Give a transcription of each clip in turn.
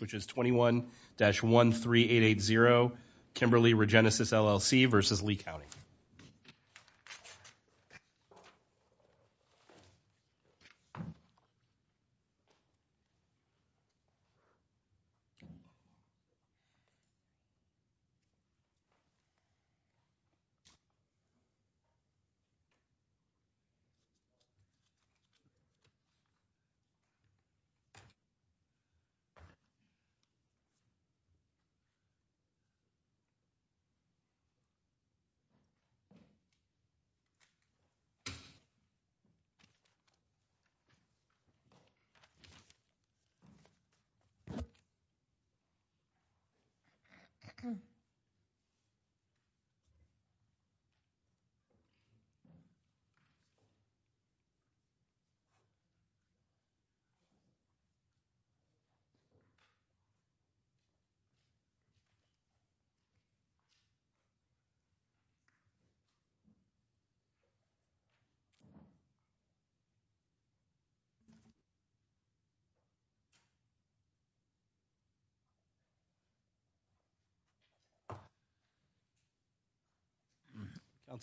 which is 21-13880, Kimberly Regenesis, LLC versus Lee County.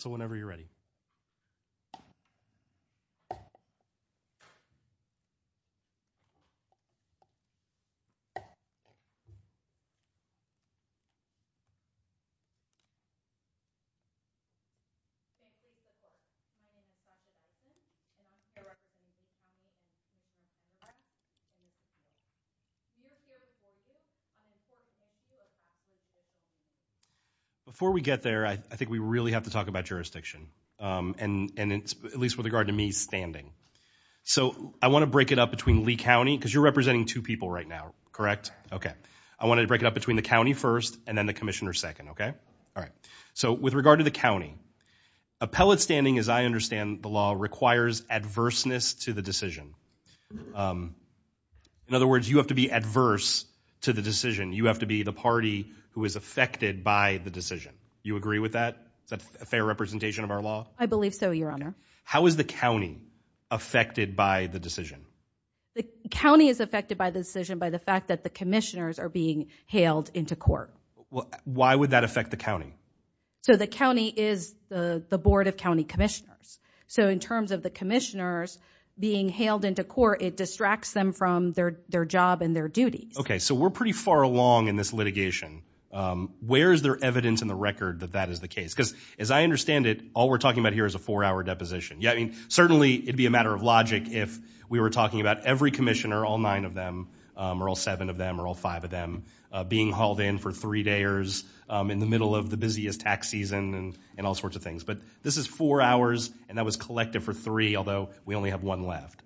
So whenever you're ready. Before we get there, I think we really have to talk about jurisdiction, and at least with regard to me standing. So I want to break it up between Lee County, because you're representing two people right now, correct? Okay. I wanted to break it up between the county first, and then the commissioner second, okay? All right. So with regard to the county, appellate standing, as I understand the law, requires adverseness to the decision. In other words, you have to be adverse to the decision. You have to be the party who is affected by the decision. You agree with that? Is that a fair representation of our law? I believe so, your honor. How is the county affected by the decision? The county is affected by the decision by the fact that the commissioners are being hailed into court. Why would that affect the county? So the county is the board of county commissioners. So in terms of the commissioners being hailed into court, it distracts them from their job and their duties. Okay. So we're pretty far along in this litigation. Where is there evidence in the record that that is the case? Because as I understand it, all we're talking about here is a four-hour deposition. Yeah, I mean, certainly it'd be a matter of logic if we were talking about every commissioner, all nine of them, or all seven of them, or all five of them, being hauled in for three days in the middle of the busiest tax season and all sorts of things. But this is four hours, and that was collective for three, although we only have one left.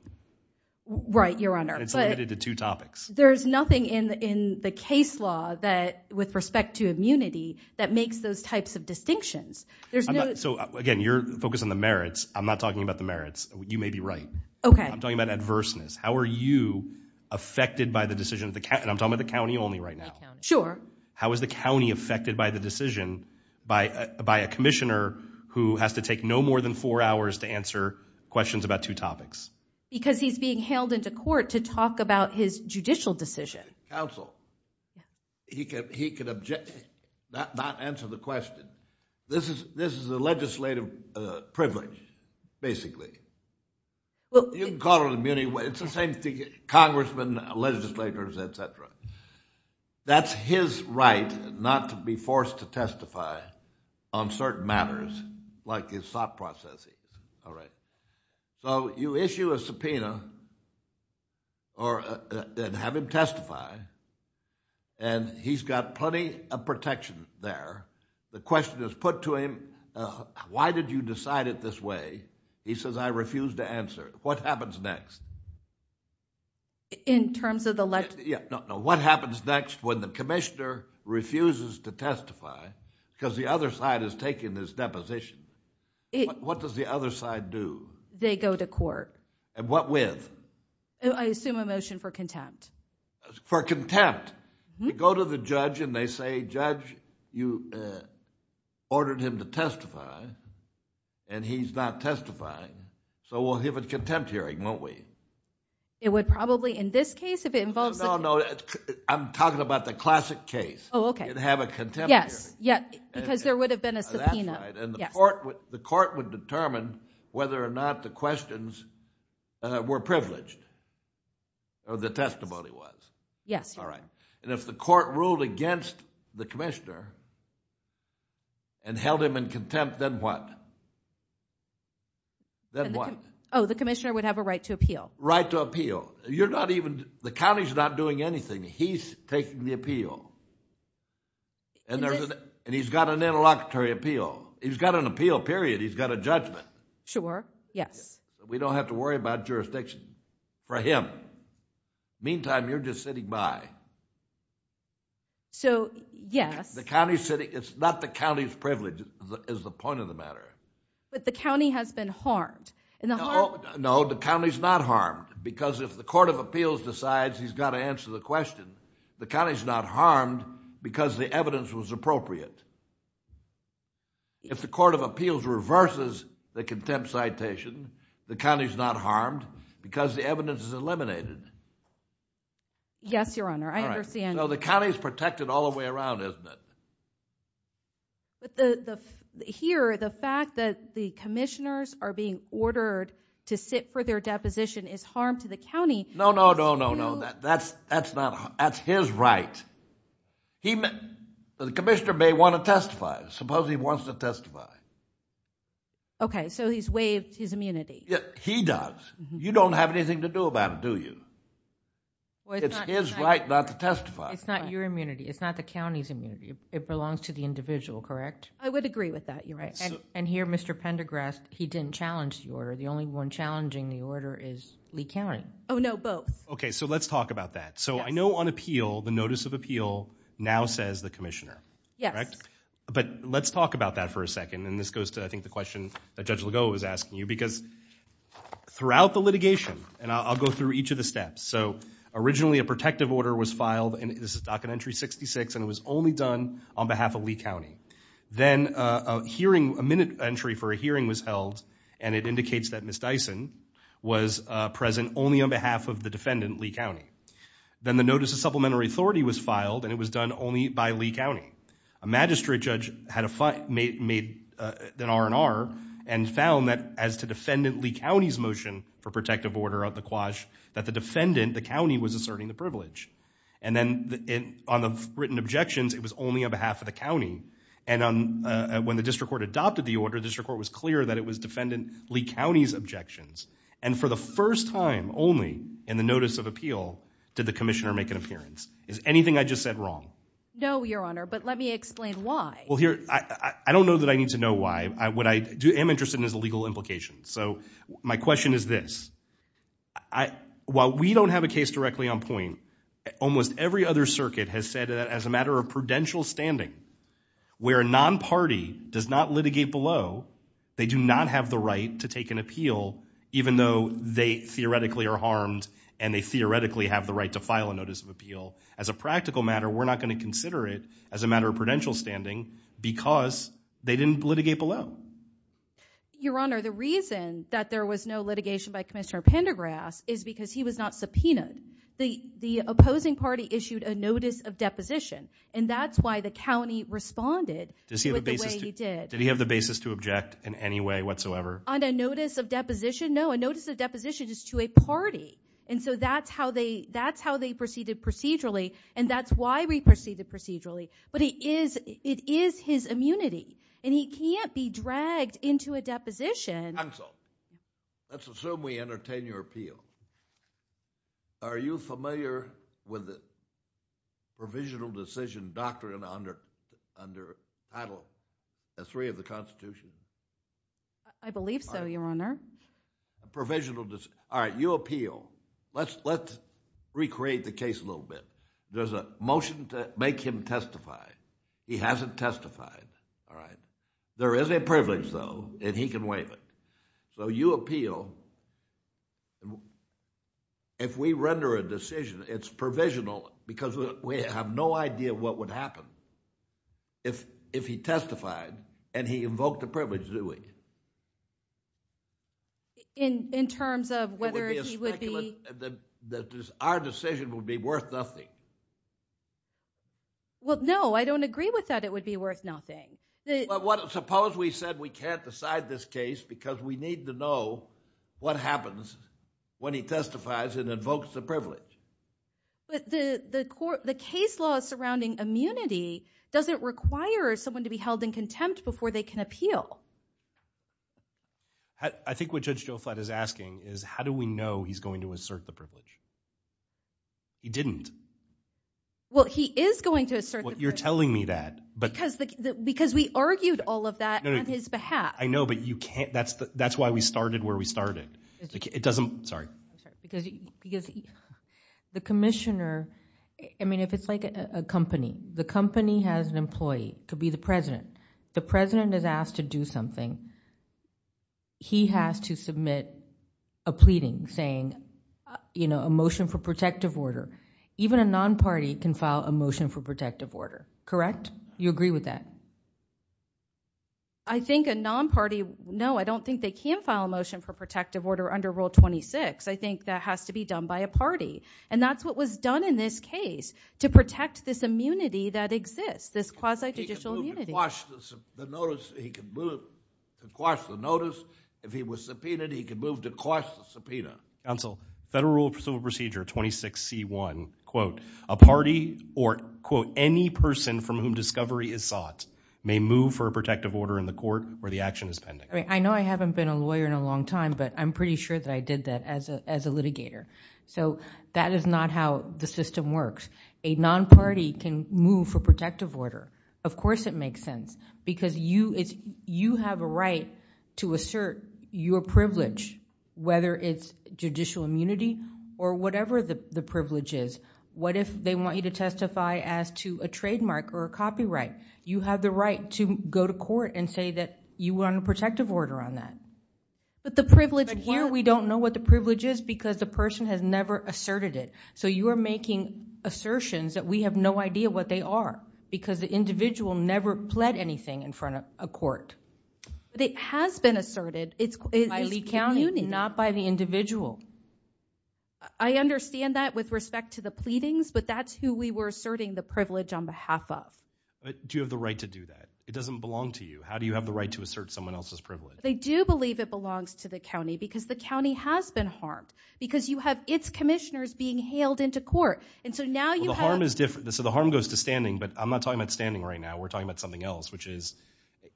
Right, your honor. It's limited to two topics. There's nothing in the case law that, with respect to immunity, that makes those types of distinctions. So again, you're focusing on the merits. I'm not talking about the merits. You may be right. Okay. I'm talking about adverseness. How are you affected by the decision of the county, and I'm talking about the county only right now. Sure. How is the county affected by the decision by a commissioner who has to take no more than four hours to answer questions about two topics? Because he's being hailed into court to talk about his judicial decision. Counsel, he could object, not answer the question. This is a legislative privilege, basically. You can call it immunity, it's the same thing, congressmen, legislators, et cetera. That's his right not to be forced to testify on certain matters, like his thought process is. All right. So you issue a subpoena and have him testify, and he's got plenty of protection there. The question is put to him, why did you decide it this way? He says, I refuse to answer. What happens next? In terms of the... Yeah. No, no. What happens next when the commissioner refuses to testify because the other side is taking his deposition? What does the other side do? They go to court. And what with? I assume a motion for contempt. For contempt? Correct. You go to the judge and they say, judge, you ordered him to testify, and he's not testifying, so we'll give a contempt hearing, won't we? It would probably, in this case, if it involves... No, no. I'm talking about the classic case. Oh, okay. You'd have a contempt hearing. Yes. Because there would have been a subpoena. That's right. And the court would determine whether or not the questions were privileged, or the testimony was. Yes. All right. And if the court ruled against the commissioner and held him in contempt, then what? Then the... Then what? Oh, the commissioner would have a right to appeal. Right to appeal. You're not even... the county's not doing anything. He's taking the appeal, and he's got an interlocutory appeal. He's got an appeal, period. He's got a judgment. Sure. Yes. We don't have to worry about jurisdiction for him. Meantime, you're just sitting by. So, yes. The county's sitting... it's not the county's privilege is the point of the matter. But the county has been harmed. No, the county's not harmed, because if the court of appeals decides he's got to answer the question, the county's not harmed because the evidence was appropriate. If the court of appeals reverses the contempt citation, the county's not harmed because the evidence is eliminated. Yes, Your Honor. I understand. All right. So, the county's protected all the way around, isn't it? Here, the fact that the commissioners are being ordered to sit for their deposition is harm to the county. No, no, no, no, no. That's his right. The commissioner may want to testify. Suppose he wants to testify. So, he's waived his immunity. He does. You don't have anything to do with that. You don't have anything to do about it, do you? Well, it's not... It's his right not to testify. It's not your immunity. It's not the county's immunity. It belongs to the individual, correct? I would agree with that. You're right. And here, Mr. Pendergrast, he didn't challenge the order. The only one challenging the order is Lee County. Oh, no, both. Okay, so let's talk about that. So, I know on appeal, the notice of appeal now says the commissioner. Yes. Correct? But let's talk about that for a second, and this goes to, I think, the question that Judge Because throughout the litigation, and I'm not going to go into the details of the litigation, but throughout the litigation, the notice of appeal says the commissioner. And I'll go through each of the steps. So, originally, a protective order was filed, and this is docket entry 66, and it was only done on behalf of Lee County. Then, a hearing, a minute entry for a hearing was held, and it indicates that Ms. Dyson was present only on behalf of the defendant, Lee County. Then, the notice of supplementary authority was filed, and it was done only by Lee County. A magistrate judge had made an R&R and found that as to defendant Lee County's motion for quash, that the defendant, the county, was asserting the privilege. And then, on the written objections, it was only on behalf of the county. And when the district court adopted the order, the district court was clear that it was defendant Lee County's objections. And for the first time only in the notice of appeal, did the commissioner make an appearance. Is anything I just said wrong? No, Your Honor, but let me explain why. Well, here, I don't know that I need to know why. What I am interested in is the legal implications. So, my question is this. While we don't have a case directly on point, almost every other circuit has said that as a matter of prudential standing, where a non-party does not litigate below, they do not have the right to take an appeal, even though they theoretically are harmed and they theoretically have the right to file a notice of appeal. As a practical matter, we're not going to consider it as a matter of prudential standing because they didn't litigate below. Your Honor, the reason that there was no litigation by Commissioner Pendergrass is because he was not subpoenaed. The opposing party issued a notice of deposition and that's why the county responded with the way he did. Did he have the basis to object in any way whatsoever? On a notice of deposition? No, a notice of deposition is to a party. And so, that's how they proceeded procedurally and that's why we proceeded procedurally. But it is his immunity and he can't be dragged into a deposition. Counsel, let's assume we entertain your appeal. Are you familiar with the provisional decision doctrine under Title III of the Constitution? I believe so, Your Honor. All right, you appeal. Let's recreate the case a little bit. There's a motion to make him testify. He hasn't testified. There is a privilege, though, and he can waive it. So, you appeal. If we render a decision, it's provisional because we have no idea what would happen if he testified and he invoked the privilege, do we? In terms of whether he would be... Our decision would be worth nothing. Well, no, I don't agree with that it would be worth nothing. Suppose we said we can't decide this case because we need to know what happens when he testifies and invokes the privilege. But the case law surrounding immunity doesn't require someone to be held in contempt before they can appeal. I think what Judge Joe Flatt is asking is how do we know he's going to assert the privilege? He didn't. Well, he is going to assert the privilege. You're telling me that. Because we argued all of that on his behalf. I know, but that's why we started where we started. Sorry. Because the commissioner, I mean, if it's like a company, the company has an employee, it could be the president. The president is asked to do something. He has to submit a pleading saying, you know, a motion for protective order. Even a non-party can file a motion for protective order, correct? You agree with that? I think a non-party, no, I don't think they can file a motion for protective order under Rule 26. I think that has to be done by a party. And that's what was done in this case to protect this immunity that exists, this quasi-judicial immunity. He could move to quash the notice. If he was subpoenaed, he could move to quash the subpoena. Counsel, Federal Rule of Civil Procedure, 26C1, quote, a party or, quote, any person from whom discovery is sought may move for a protective order in the court where the action is pending. I know I haven't been a lawyer in a long time, but I'm pretty sure that I did that as a litigator. So that is not how the system works. A non-party can move for protective order. Of course it makes sense because you have a right to assert your privilege, whether it's judicial immunity or whatever the privilege is. What if they want you to testify as to a trademark or a copyright? You have the right to go to court and say that you want a protective order on that. But the privilege won't. But here we don't know what the privilege is because the person has never asserted it. So you are making assertions that we have no idea what they are because the individual never pled anything in front of a court. But it has been asserted. By Lee County, not by the individual. I understand that with respect to the pleadings, but that's who we were asserting the privilege on behalf of. But do you have the right to do that? It doesn't belong to you. How do you have the right to assert someone else's privilege? They do believe it belongs to the county because the county has been harmed because you have its commissioners being hailed into court. So the harm goes to standing, but I'm not talking about standing right now. We're talking about something else, which is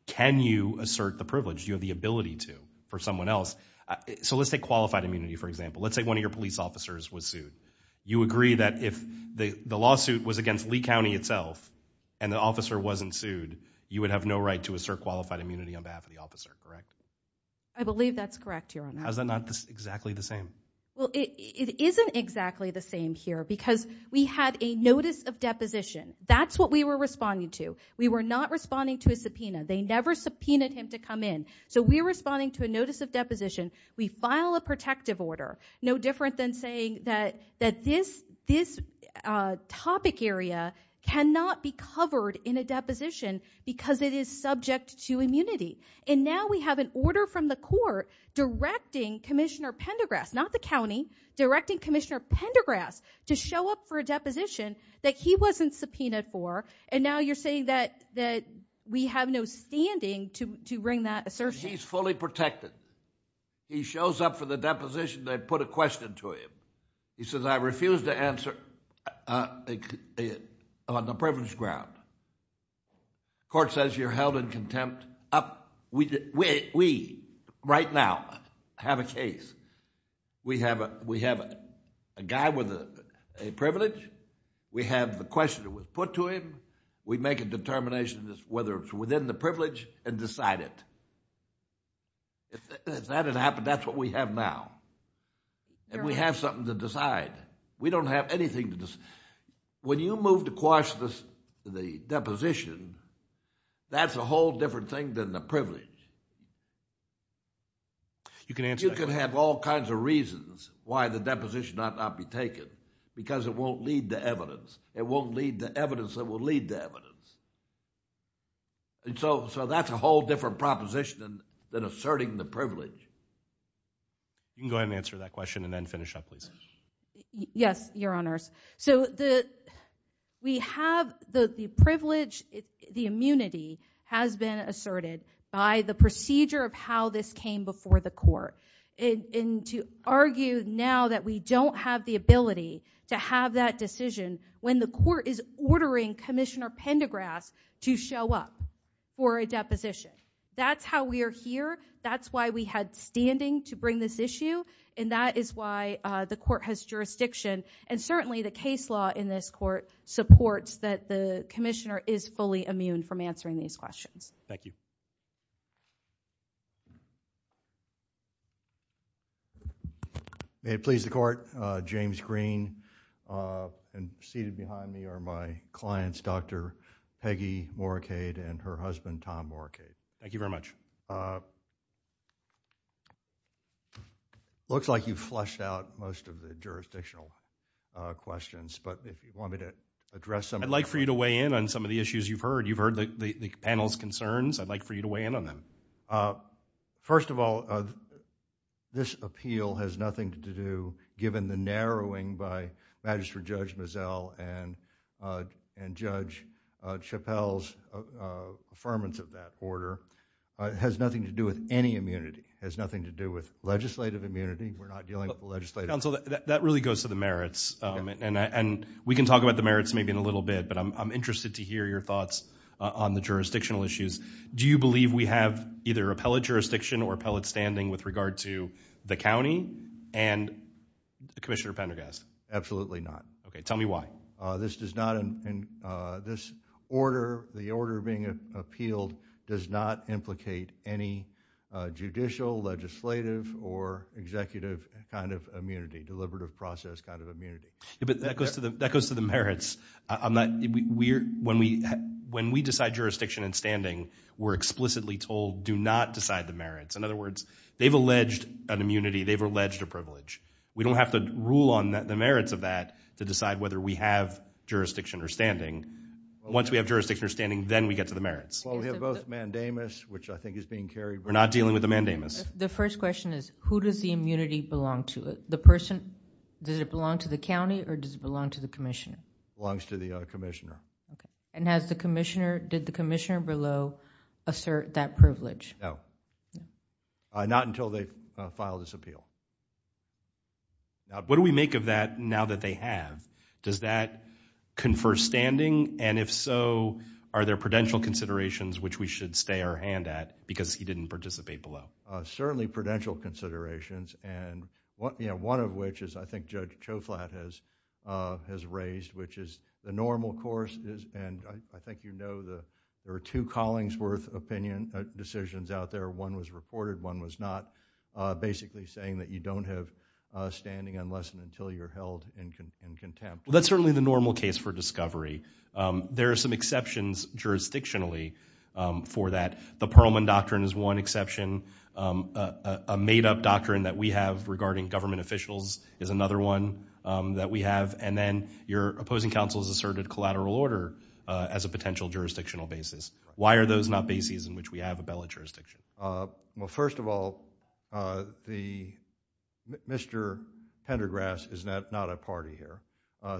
can you assert the privilege? Do you have the ability to for someone else? So let's take qualified immunity, for example. Let's say one of your police officers was sued. You agree that if the lawsuit was against Lee County itself and the officer wasn't sued, you would have no right to assert qualified immunity on behalf of the officer, correct? I believe that's correct, Your Honor. How is that not exactly the same? Well, it isn't exactly the same here because we had a notice of deposition. That's what we were responding to. We were not responding to a subpoena. They never subpoenaed him to come in. So we're responding to a notice of deposition. We file a protective order, no different than saying that this topic area cannot be covered in a deposition because it is subject to immunity. And now we have an order from the court directing Commissioner Pendergrass, not the county, directing Commissioner Pendergrass to show up for a deposition that he wasn't subpoenaed for, and now you're saying that we have no standing to bring that assertion. He's fully protected. He shows up for the deposition. They put a question to him. He says, I refuse to answer on a privilege ground. Court says you're held in contempt. We, right now, have a case. We have a guy with a privilege. We have the question that was put to him. We make a determination whether it's within the privilege and decide it. If that had happened, that's what we have now. And we have something to decide. We don't have anything to decide. When you move to quash the deposition, that's a whole different thing than the privilege. You can answer that question. You can have all kinds of reasons why the deposition ought not be taken because it won't lead to evidence. It won't lead to evidence that will lead to evidence. So that's a whole different proposition than asserting the privilege. You can go ahead and answer that question and then finish up, please. Yes, Your Honors. So the privilege, the immunity, has been asserted by the procedure of how this came before the court. And to argue now that we don't have the ability to have that decision when the court is ordering Commissioner Pendergrass to show up for a deposition. That's how we are here. That's why we had standing to bring this issue. And that is why the court has jurisdiction. And certainly the case law in this court supports that the Commissioner is fully immune from answering these questions. Thank you. May it please the Court. James Green. And seated behind me are my clients, Dr. Peggy Morricade and her husband, Tom Morricade. Thank you very much. It looks like you've flushed out most of the jurisdictional questions. But if you want me to address them. I'd like for you to weigh in on some of the issues you've heard. You've heard the panel's concerns. I'd like for you to weigh in on them. First of all, this appeal has nothing to do, given the narrowing by Magistrate Judge Mazzel and Judge Chappelle's affirmance of that order. It has nothing to do with any immunity. It has nothing to do with legislative immunity. We're not dealing with the legislative immunity. Counsel, that really goes to the merits. And we can talk about the merits maybe in a little bit. But I'm interested to hear your thoughts on the jurisdictional issues. Do you believe we have either appellate jurisdiction or appellate standing with regard to the county and Commissioner Pendergrass? Absolutely not. Okay, tell me why. This order, the order being appealed, does not implicate any judicial, legislative, or executive kind of immunity, deliberative process kind of immunity. But that goes to the merits. When we decide jurisdiction and standing, we're explicitly told, do not decide the merits. In other words, they've alleged an immunity. They've alleged a privilege. We don't have to rule on the merits of that to decide whether we have jurisdiction or standing. Once we have jurisdiction or standing, then we get to the merits. Well, we have both mandamus, which I think is being carried. We're not dealing with the mandamus. The first question is, who does the immunity belong to? The person, does it belong to the county or does it belong to the commissioner? It belongs to the commissioner. And has the commissioner, did the commissioner below assert that privilege? No. Not until they file this appeal. What do we make of that now that they have? Does that confer standing? And if so, are there prudential considerations which we should stay our hand at because he didn't participate below? Certainly prudential considerations. And one of which is I think Judge Choflat has raised, which is the normal course is, and I think you know there are two Collingsworth decisions out there, one was reported, one was not, basically saying that you don't have standing unless and until you're held in contempt. Well, that's certainly the normal case for discovery. There are some exceptions jurisdictionally for that. The Perlman Doctrine is one exception. A made-up doctrine that we have regarding government officials is another one that we have. And then your opposing counsel has asserted collateral order as a potential jurisdictional basis. Why are those not bases in which we have a bellen jurisdiction? Well, first of all, Mr. Pendergrass is not a party here.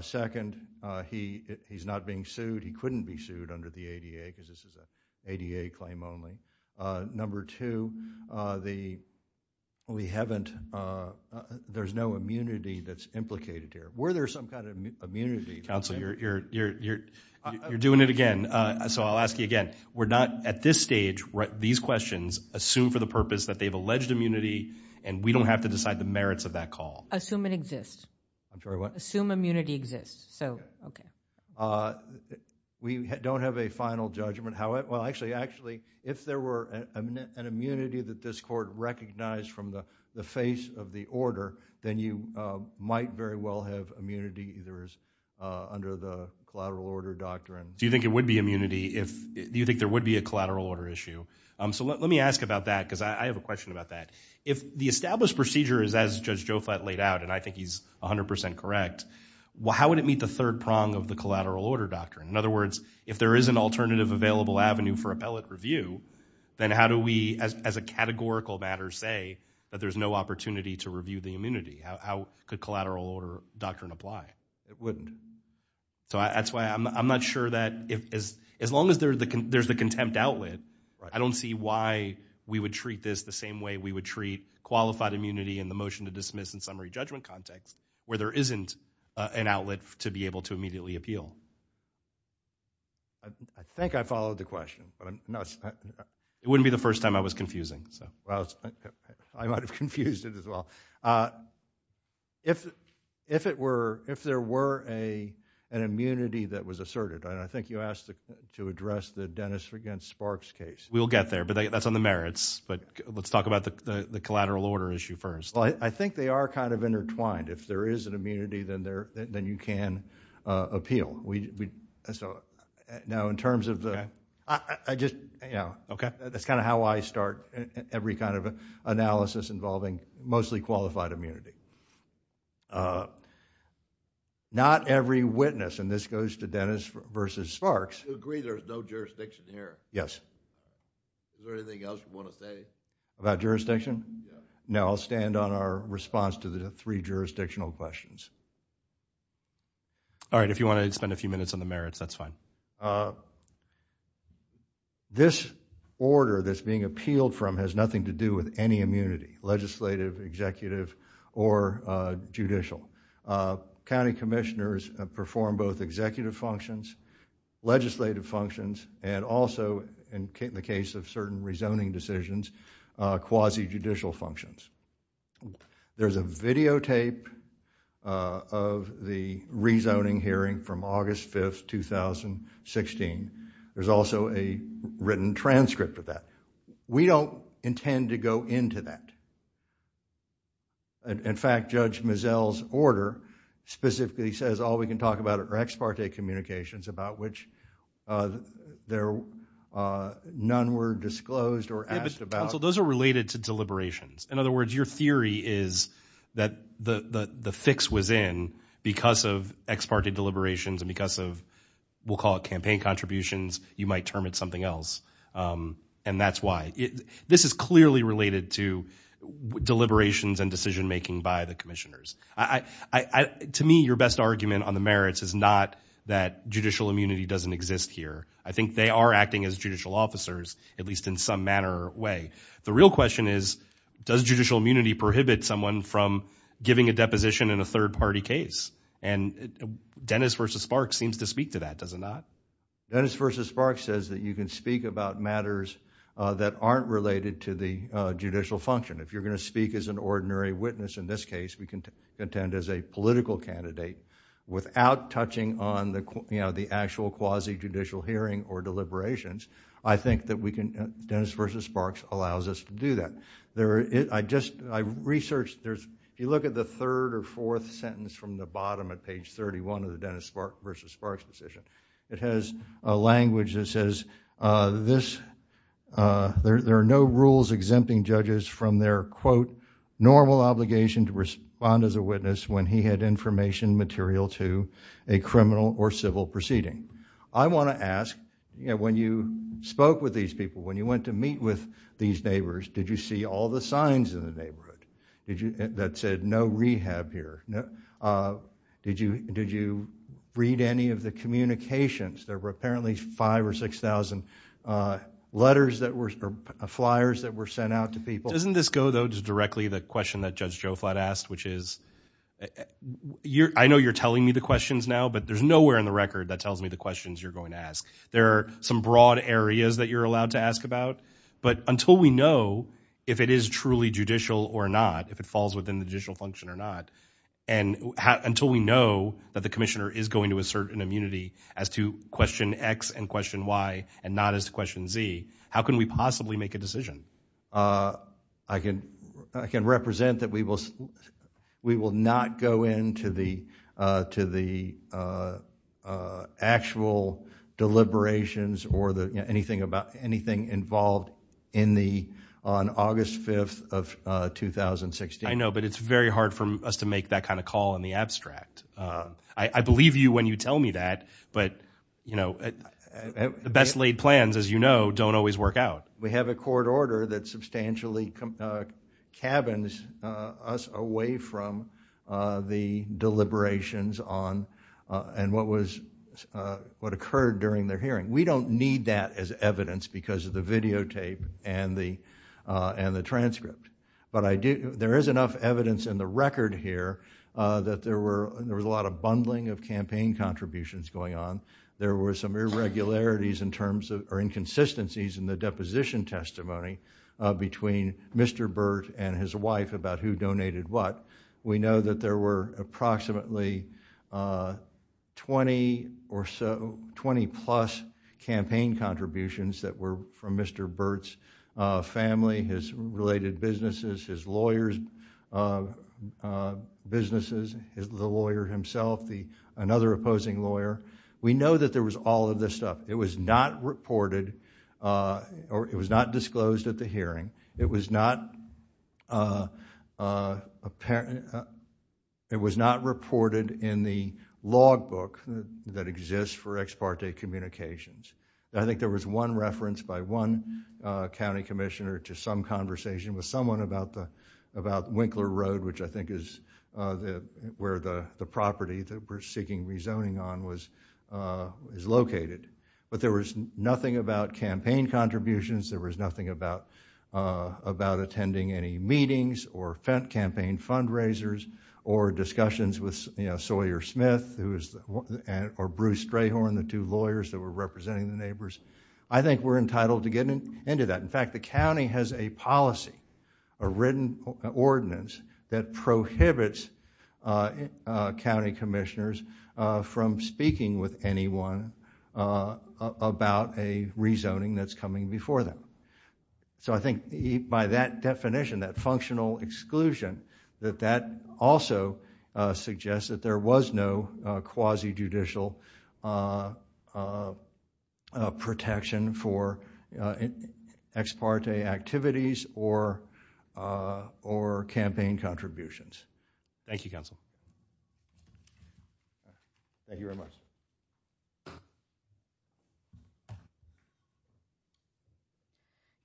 Second, he's not being sued. He couldn't be sued under the ADA because this is an ADA claim only. Number two, there's no immunity that's implicated here. Were there some kind of immunity? Counsel, you're doing it again, so I'll ask you again. We're not, at this stage, these questions, assume for the purpose that they've alleged immunity and we don't have to decide the merits of that call. Assume it exists. I'm sorry, what? Assume immunity exists. We don't have a final judgment. Well, actually, if there were an immunity that this court recognized from the face of the order, then you might very well have immunity either as under the collateral order doctrine. Do you think there would be a collateral order issue? Let me ask about that because I have a question about that. If the established procedure is as Judge Joflat laid out, and I think he's 100% correct, how would it meet the third prong of the collateral order doctrine? In other words, if there is an alternative available avenue for appellate review, then how do we, as a categorical matter, say that there's no opportunity to review the immunity? How could collateral order doctrine apply? It wouldn't. That's why I'm not sure that as long as there's the contempt outlet, I don't see why we would treat this the same way we would treat qualified immunity in the motion to dismiss and summary judgment context where there isn't an outlet to be able to immediately appeal. I think I followed the question. It wouldn't be the first time I was confusing. I might have confused it as well. If there were an immunity that was asserted, and I think you asked to address the Dennis against Sparks case. We'll get there, but that's on the merits. Let's talk about the collateral order issue first. I think they are intertwined. If there is an immunity, then you can appeal. That's how I start every analysis involving mostly qualified immunity. Not every witness, and this goes to Dennis versus Sparks. You agree there's no jurisdiction here? Yes. Is there anything else you want to say? About jurisdiction? No, I'll stand on our response to the three jurisdictional questions. All right, if you want to spend a few minutes on the merits, that's fine. This order that's being appealed from has nothing to do with any immunity, legislative, executive, or judicial. County commissioners perform both executive functions, legislative functions, and also, in the case of certain rezoning decisions, quasi-judicial functions. There's a videotape of the rezoning hearing from August 5th, 2016. There's also a written transcript of that. We don't intend to go into that. In fact, Judge Mizell's order specifically says all we can talk about are ex parte communications about which none were disclosed or asked about. Counsel, those are related to deliberations. In other words, your theory is that the fix was in that because of ex parte deliberations and because of, we'll call it campaign contributions, you might term it something else, and that's why. This is clearly related to deliberations and decision making by the commissioners. To me, your best argument on the merits is not that judicial immunity doesn't exist here. I think they are acting as judicial officers, at least in some manner or way. The real question is, does judicial immunity prohibit someone from giving a deposition in a third-party case? Dennis v. Sparks seems to speak to that, does it not? Dennis v. Sparks says that you can speak about matters that aren't related to the judicial function. If you're going to speak as an ordinary witness, in this case we contend as a political candidate, without touching on the actual quasi-judicial hearing or deliberations, I think that Dennis v. Sparks allows us to do that. I researched, if you look at the third or fourth sentence from the bottom of page 31 of the Dennis v. Sparks decision, it has a language that says, there are no rules exempting judges from their, quote, normal obligation to respond as a witness when he had information material to a criminal or civil proceeding. I want to ask, when you spoke with these people, when you went to meet with these neighbors, did you see all the signs in the neighborhood that said, no rehab here? Did you read any of the communications? There were apparently 5,000 or 6,000 letters or flyers that were sent out to people. Doesn't this go, though, directly to the question that Judge Joflat asked, which is, I know you're telling me the questions now, but there's nowhere in the record that tells me the questions you're going to ask. There are some broad areas that you're allowed to ask about, but until we know if it is truly judicial or not, if it falls within the judicial function or not, and until we know that the commissioner is going to assert an immunity as to question X and question Y and not as to question Z, how can we possibly make a decision? I can represent that we will not go into the actual deliberations or anything involved on August 5th of 2016. I know, but it's very hard for us to make that kind of call in the abstract. I believe you when you tell me that, but the best laid plans, as you know, don't always work out. We have a court order that substantially cabins us away from the deliberations and what occurred during their hearing. We don't need that as evidence because of the videotape and the transcript, but there is enough evidence in the record here that there was a lot of bundling of campaign contributions going on. There were some irregularities or inconsistencies in the deposition testimony between Mr. Burt and his wife about who donated what. We know that there were approximately 20-plus campaign contributions that were from Mr. Burt's family, his related businesses, his lawyer's businesses, the lawyer himself, another opposing lawyer. We know that there was all of this stuff. It was not reported or it was not disclosed at the hearing. It was not reported in the logbook that exists for ex parte communications. I think there was one reference by one county commissioner to some conversation with someone about Winkler Road, which I think is where the property that we're seeking rezoning on is located. But there was nothing about campaign contributions. There was nothing about attending any meetings or campaign fundraisers or discussions with Sawyer Smith or Bruce Strayhorn, the two lawyers that were representing the neighbors. I think we're entitled to get into that. In fact, the county has a policy, a written ordinance, that prohibits county commissioners from speaking with anyone about a rezoning that's coming before them. So I think by that definition, that functional exclusion, that that also suggests that there was no quasi-judicial protection for ex parte activities or campaign contributions. Thank you, counsel. Thank you very much.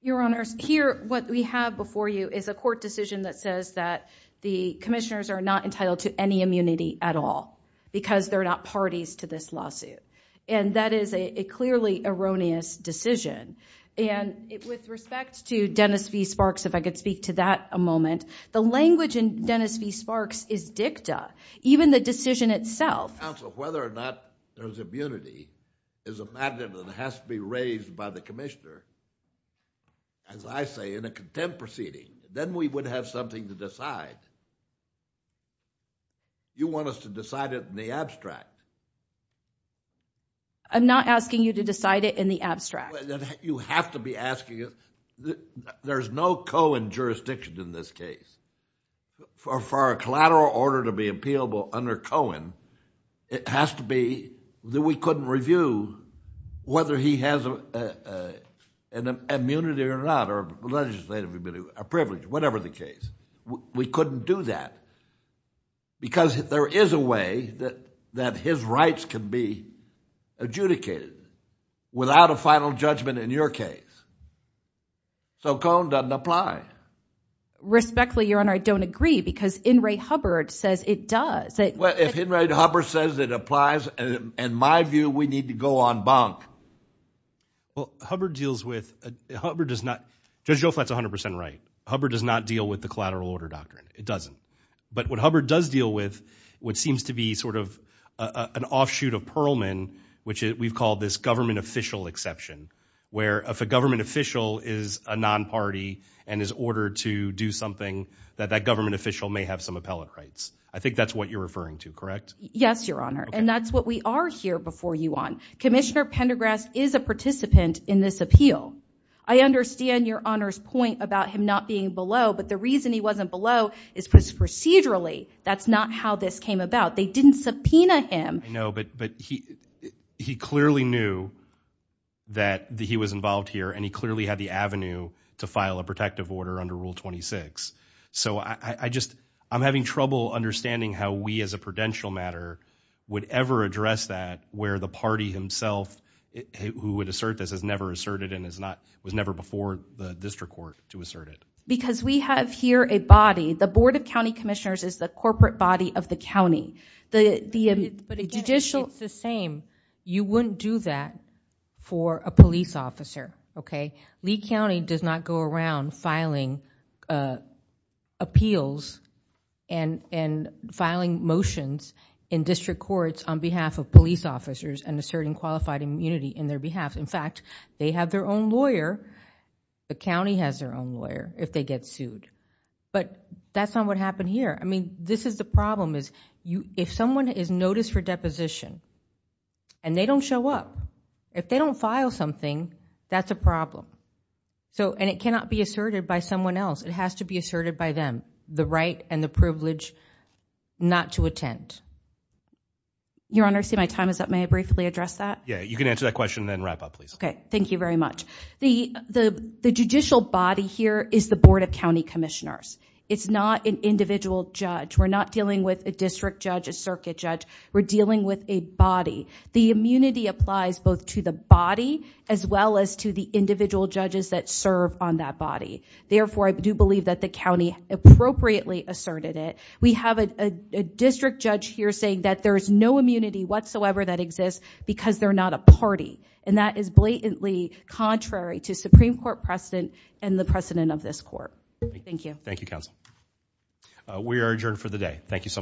Your Honors, here what we have before you is a court decision that says that the commissioners are not entitled to any immunity at all because they're not parties to this lawsuit. And that is a clearly erroneous decision. And with respect to Dennis V. Sparks, if I could speak to that a moment, the language in Dennis V. Sparks is dicta, even the decision itself. Counsel, whether or not there's immunity is a matter that has to be raised by the commissioner. As I say, in a contempt proceeding, then we would have something to decide. You want us to decide it in the abstract. I'm not asking you to decide it in the abstract. You have to be asking it. There's no Cohen jurisdiction in this case. For a collateral order to be appealable under Cohen, it has to be that we couldn't review whether he has an immunity or not, or a legislative immunity, a privilege, whatever the case. We couldn't do that. Because there is a way that his rights can be adjudicated without a final judgment in your case. So Cohen doesn't apply. Respectfully, Your Honor, I don't agree because In re Hubbard says it does. Well, if In re Hubbard says it applies, in my view, we need to go on bunk. Well, Hubbard deals with... Hubbard does not... Judge Joe Flatt's 100% right. Hubbard does not deal with the collateral order doctrine. It doesn't. But what Hubbard does deal with, what seems to be sort of an offshoot of Perlman, which we've called this government official exception, where if a government official is a non-party and is ordered to do something, that that government official may have some appellate rights. I think that's what you're referring to, correct? Yes, Your Honor. And that's what we are here before you on. Commissioner Pendergrass is a participant in this appeal. I understand Your Honor's point about him not being below, but the reason he wasn't below is procedurally. That's not how this came about. They didn't subpoena him. I know, but he clearly knew that he was involved here, and he clearly had the avenue to file a protective order under Rule 26. So I'm having trouble understanding how we as a prudential matter would ever address that where the party himself who would assert this has never asserted and was never before the district court to assert it. Because we have here a body. The Board of County Commissioners is the corporate body of the county. But again, it's the same. You wouldn't do that for a police officer, okay? Lee County does not go around filing appeals and filing motions in district courts on behalf of police officers and asserting qualified immunity in their behalf. In fact, they have their own lawyer. The county has their own lawyer if they get sued. But that's not what happened here. I mean, this is the problem is if someone is noticed for deposition and they don't show up, if they don't file something, that's a problem. And it cannot be asserted by someone else. It has to be asserted by them, the right and the privilege not to attend. Your Honor, I see my time is up. May I briefly address that? Yeah, you can answer that question and then wrap up, please. Okay, thank you very much. The judicial body here is the Board of County Commissioners. It's not an individual judge. We're not dealing with a district judge, a circuit judge. We're dealing with a body. The immunity applies both to the body as well as to the individual judges that serve on that body. Therefore, I do believe that the county appropriately asserted it. We have a district judge here saying that there's no immunity whatsoever that exists because they're not a party. And that is blatantly contrary to Supreme Court precedent and the precedent of this court. Thank you. Thank you, counsel. We are adjourned for the day. Thank you so much. Thank you.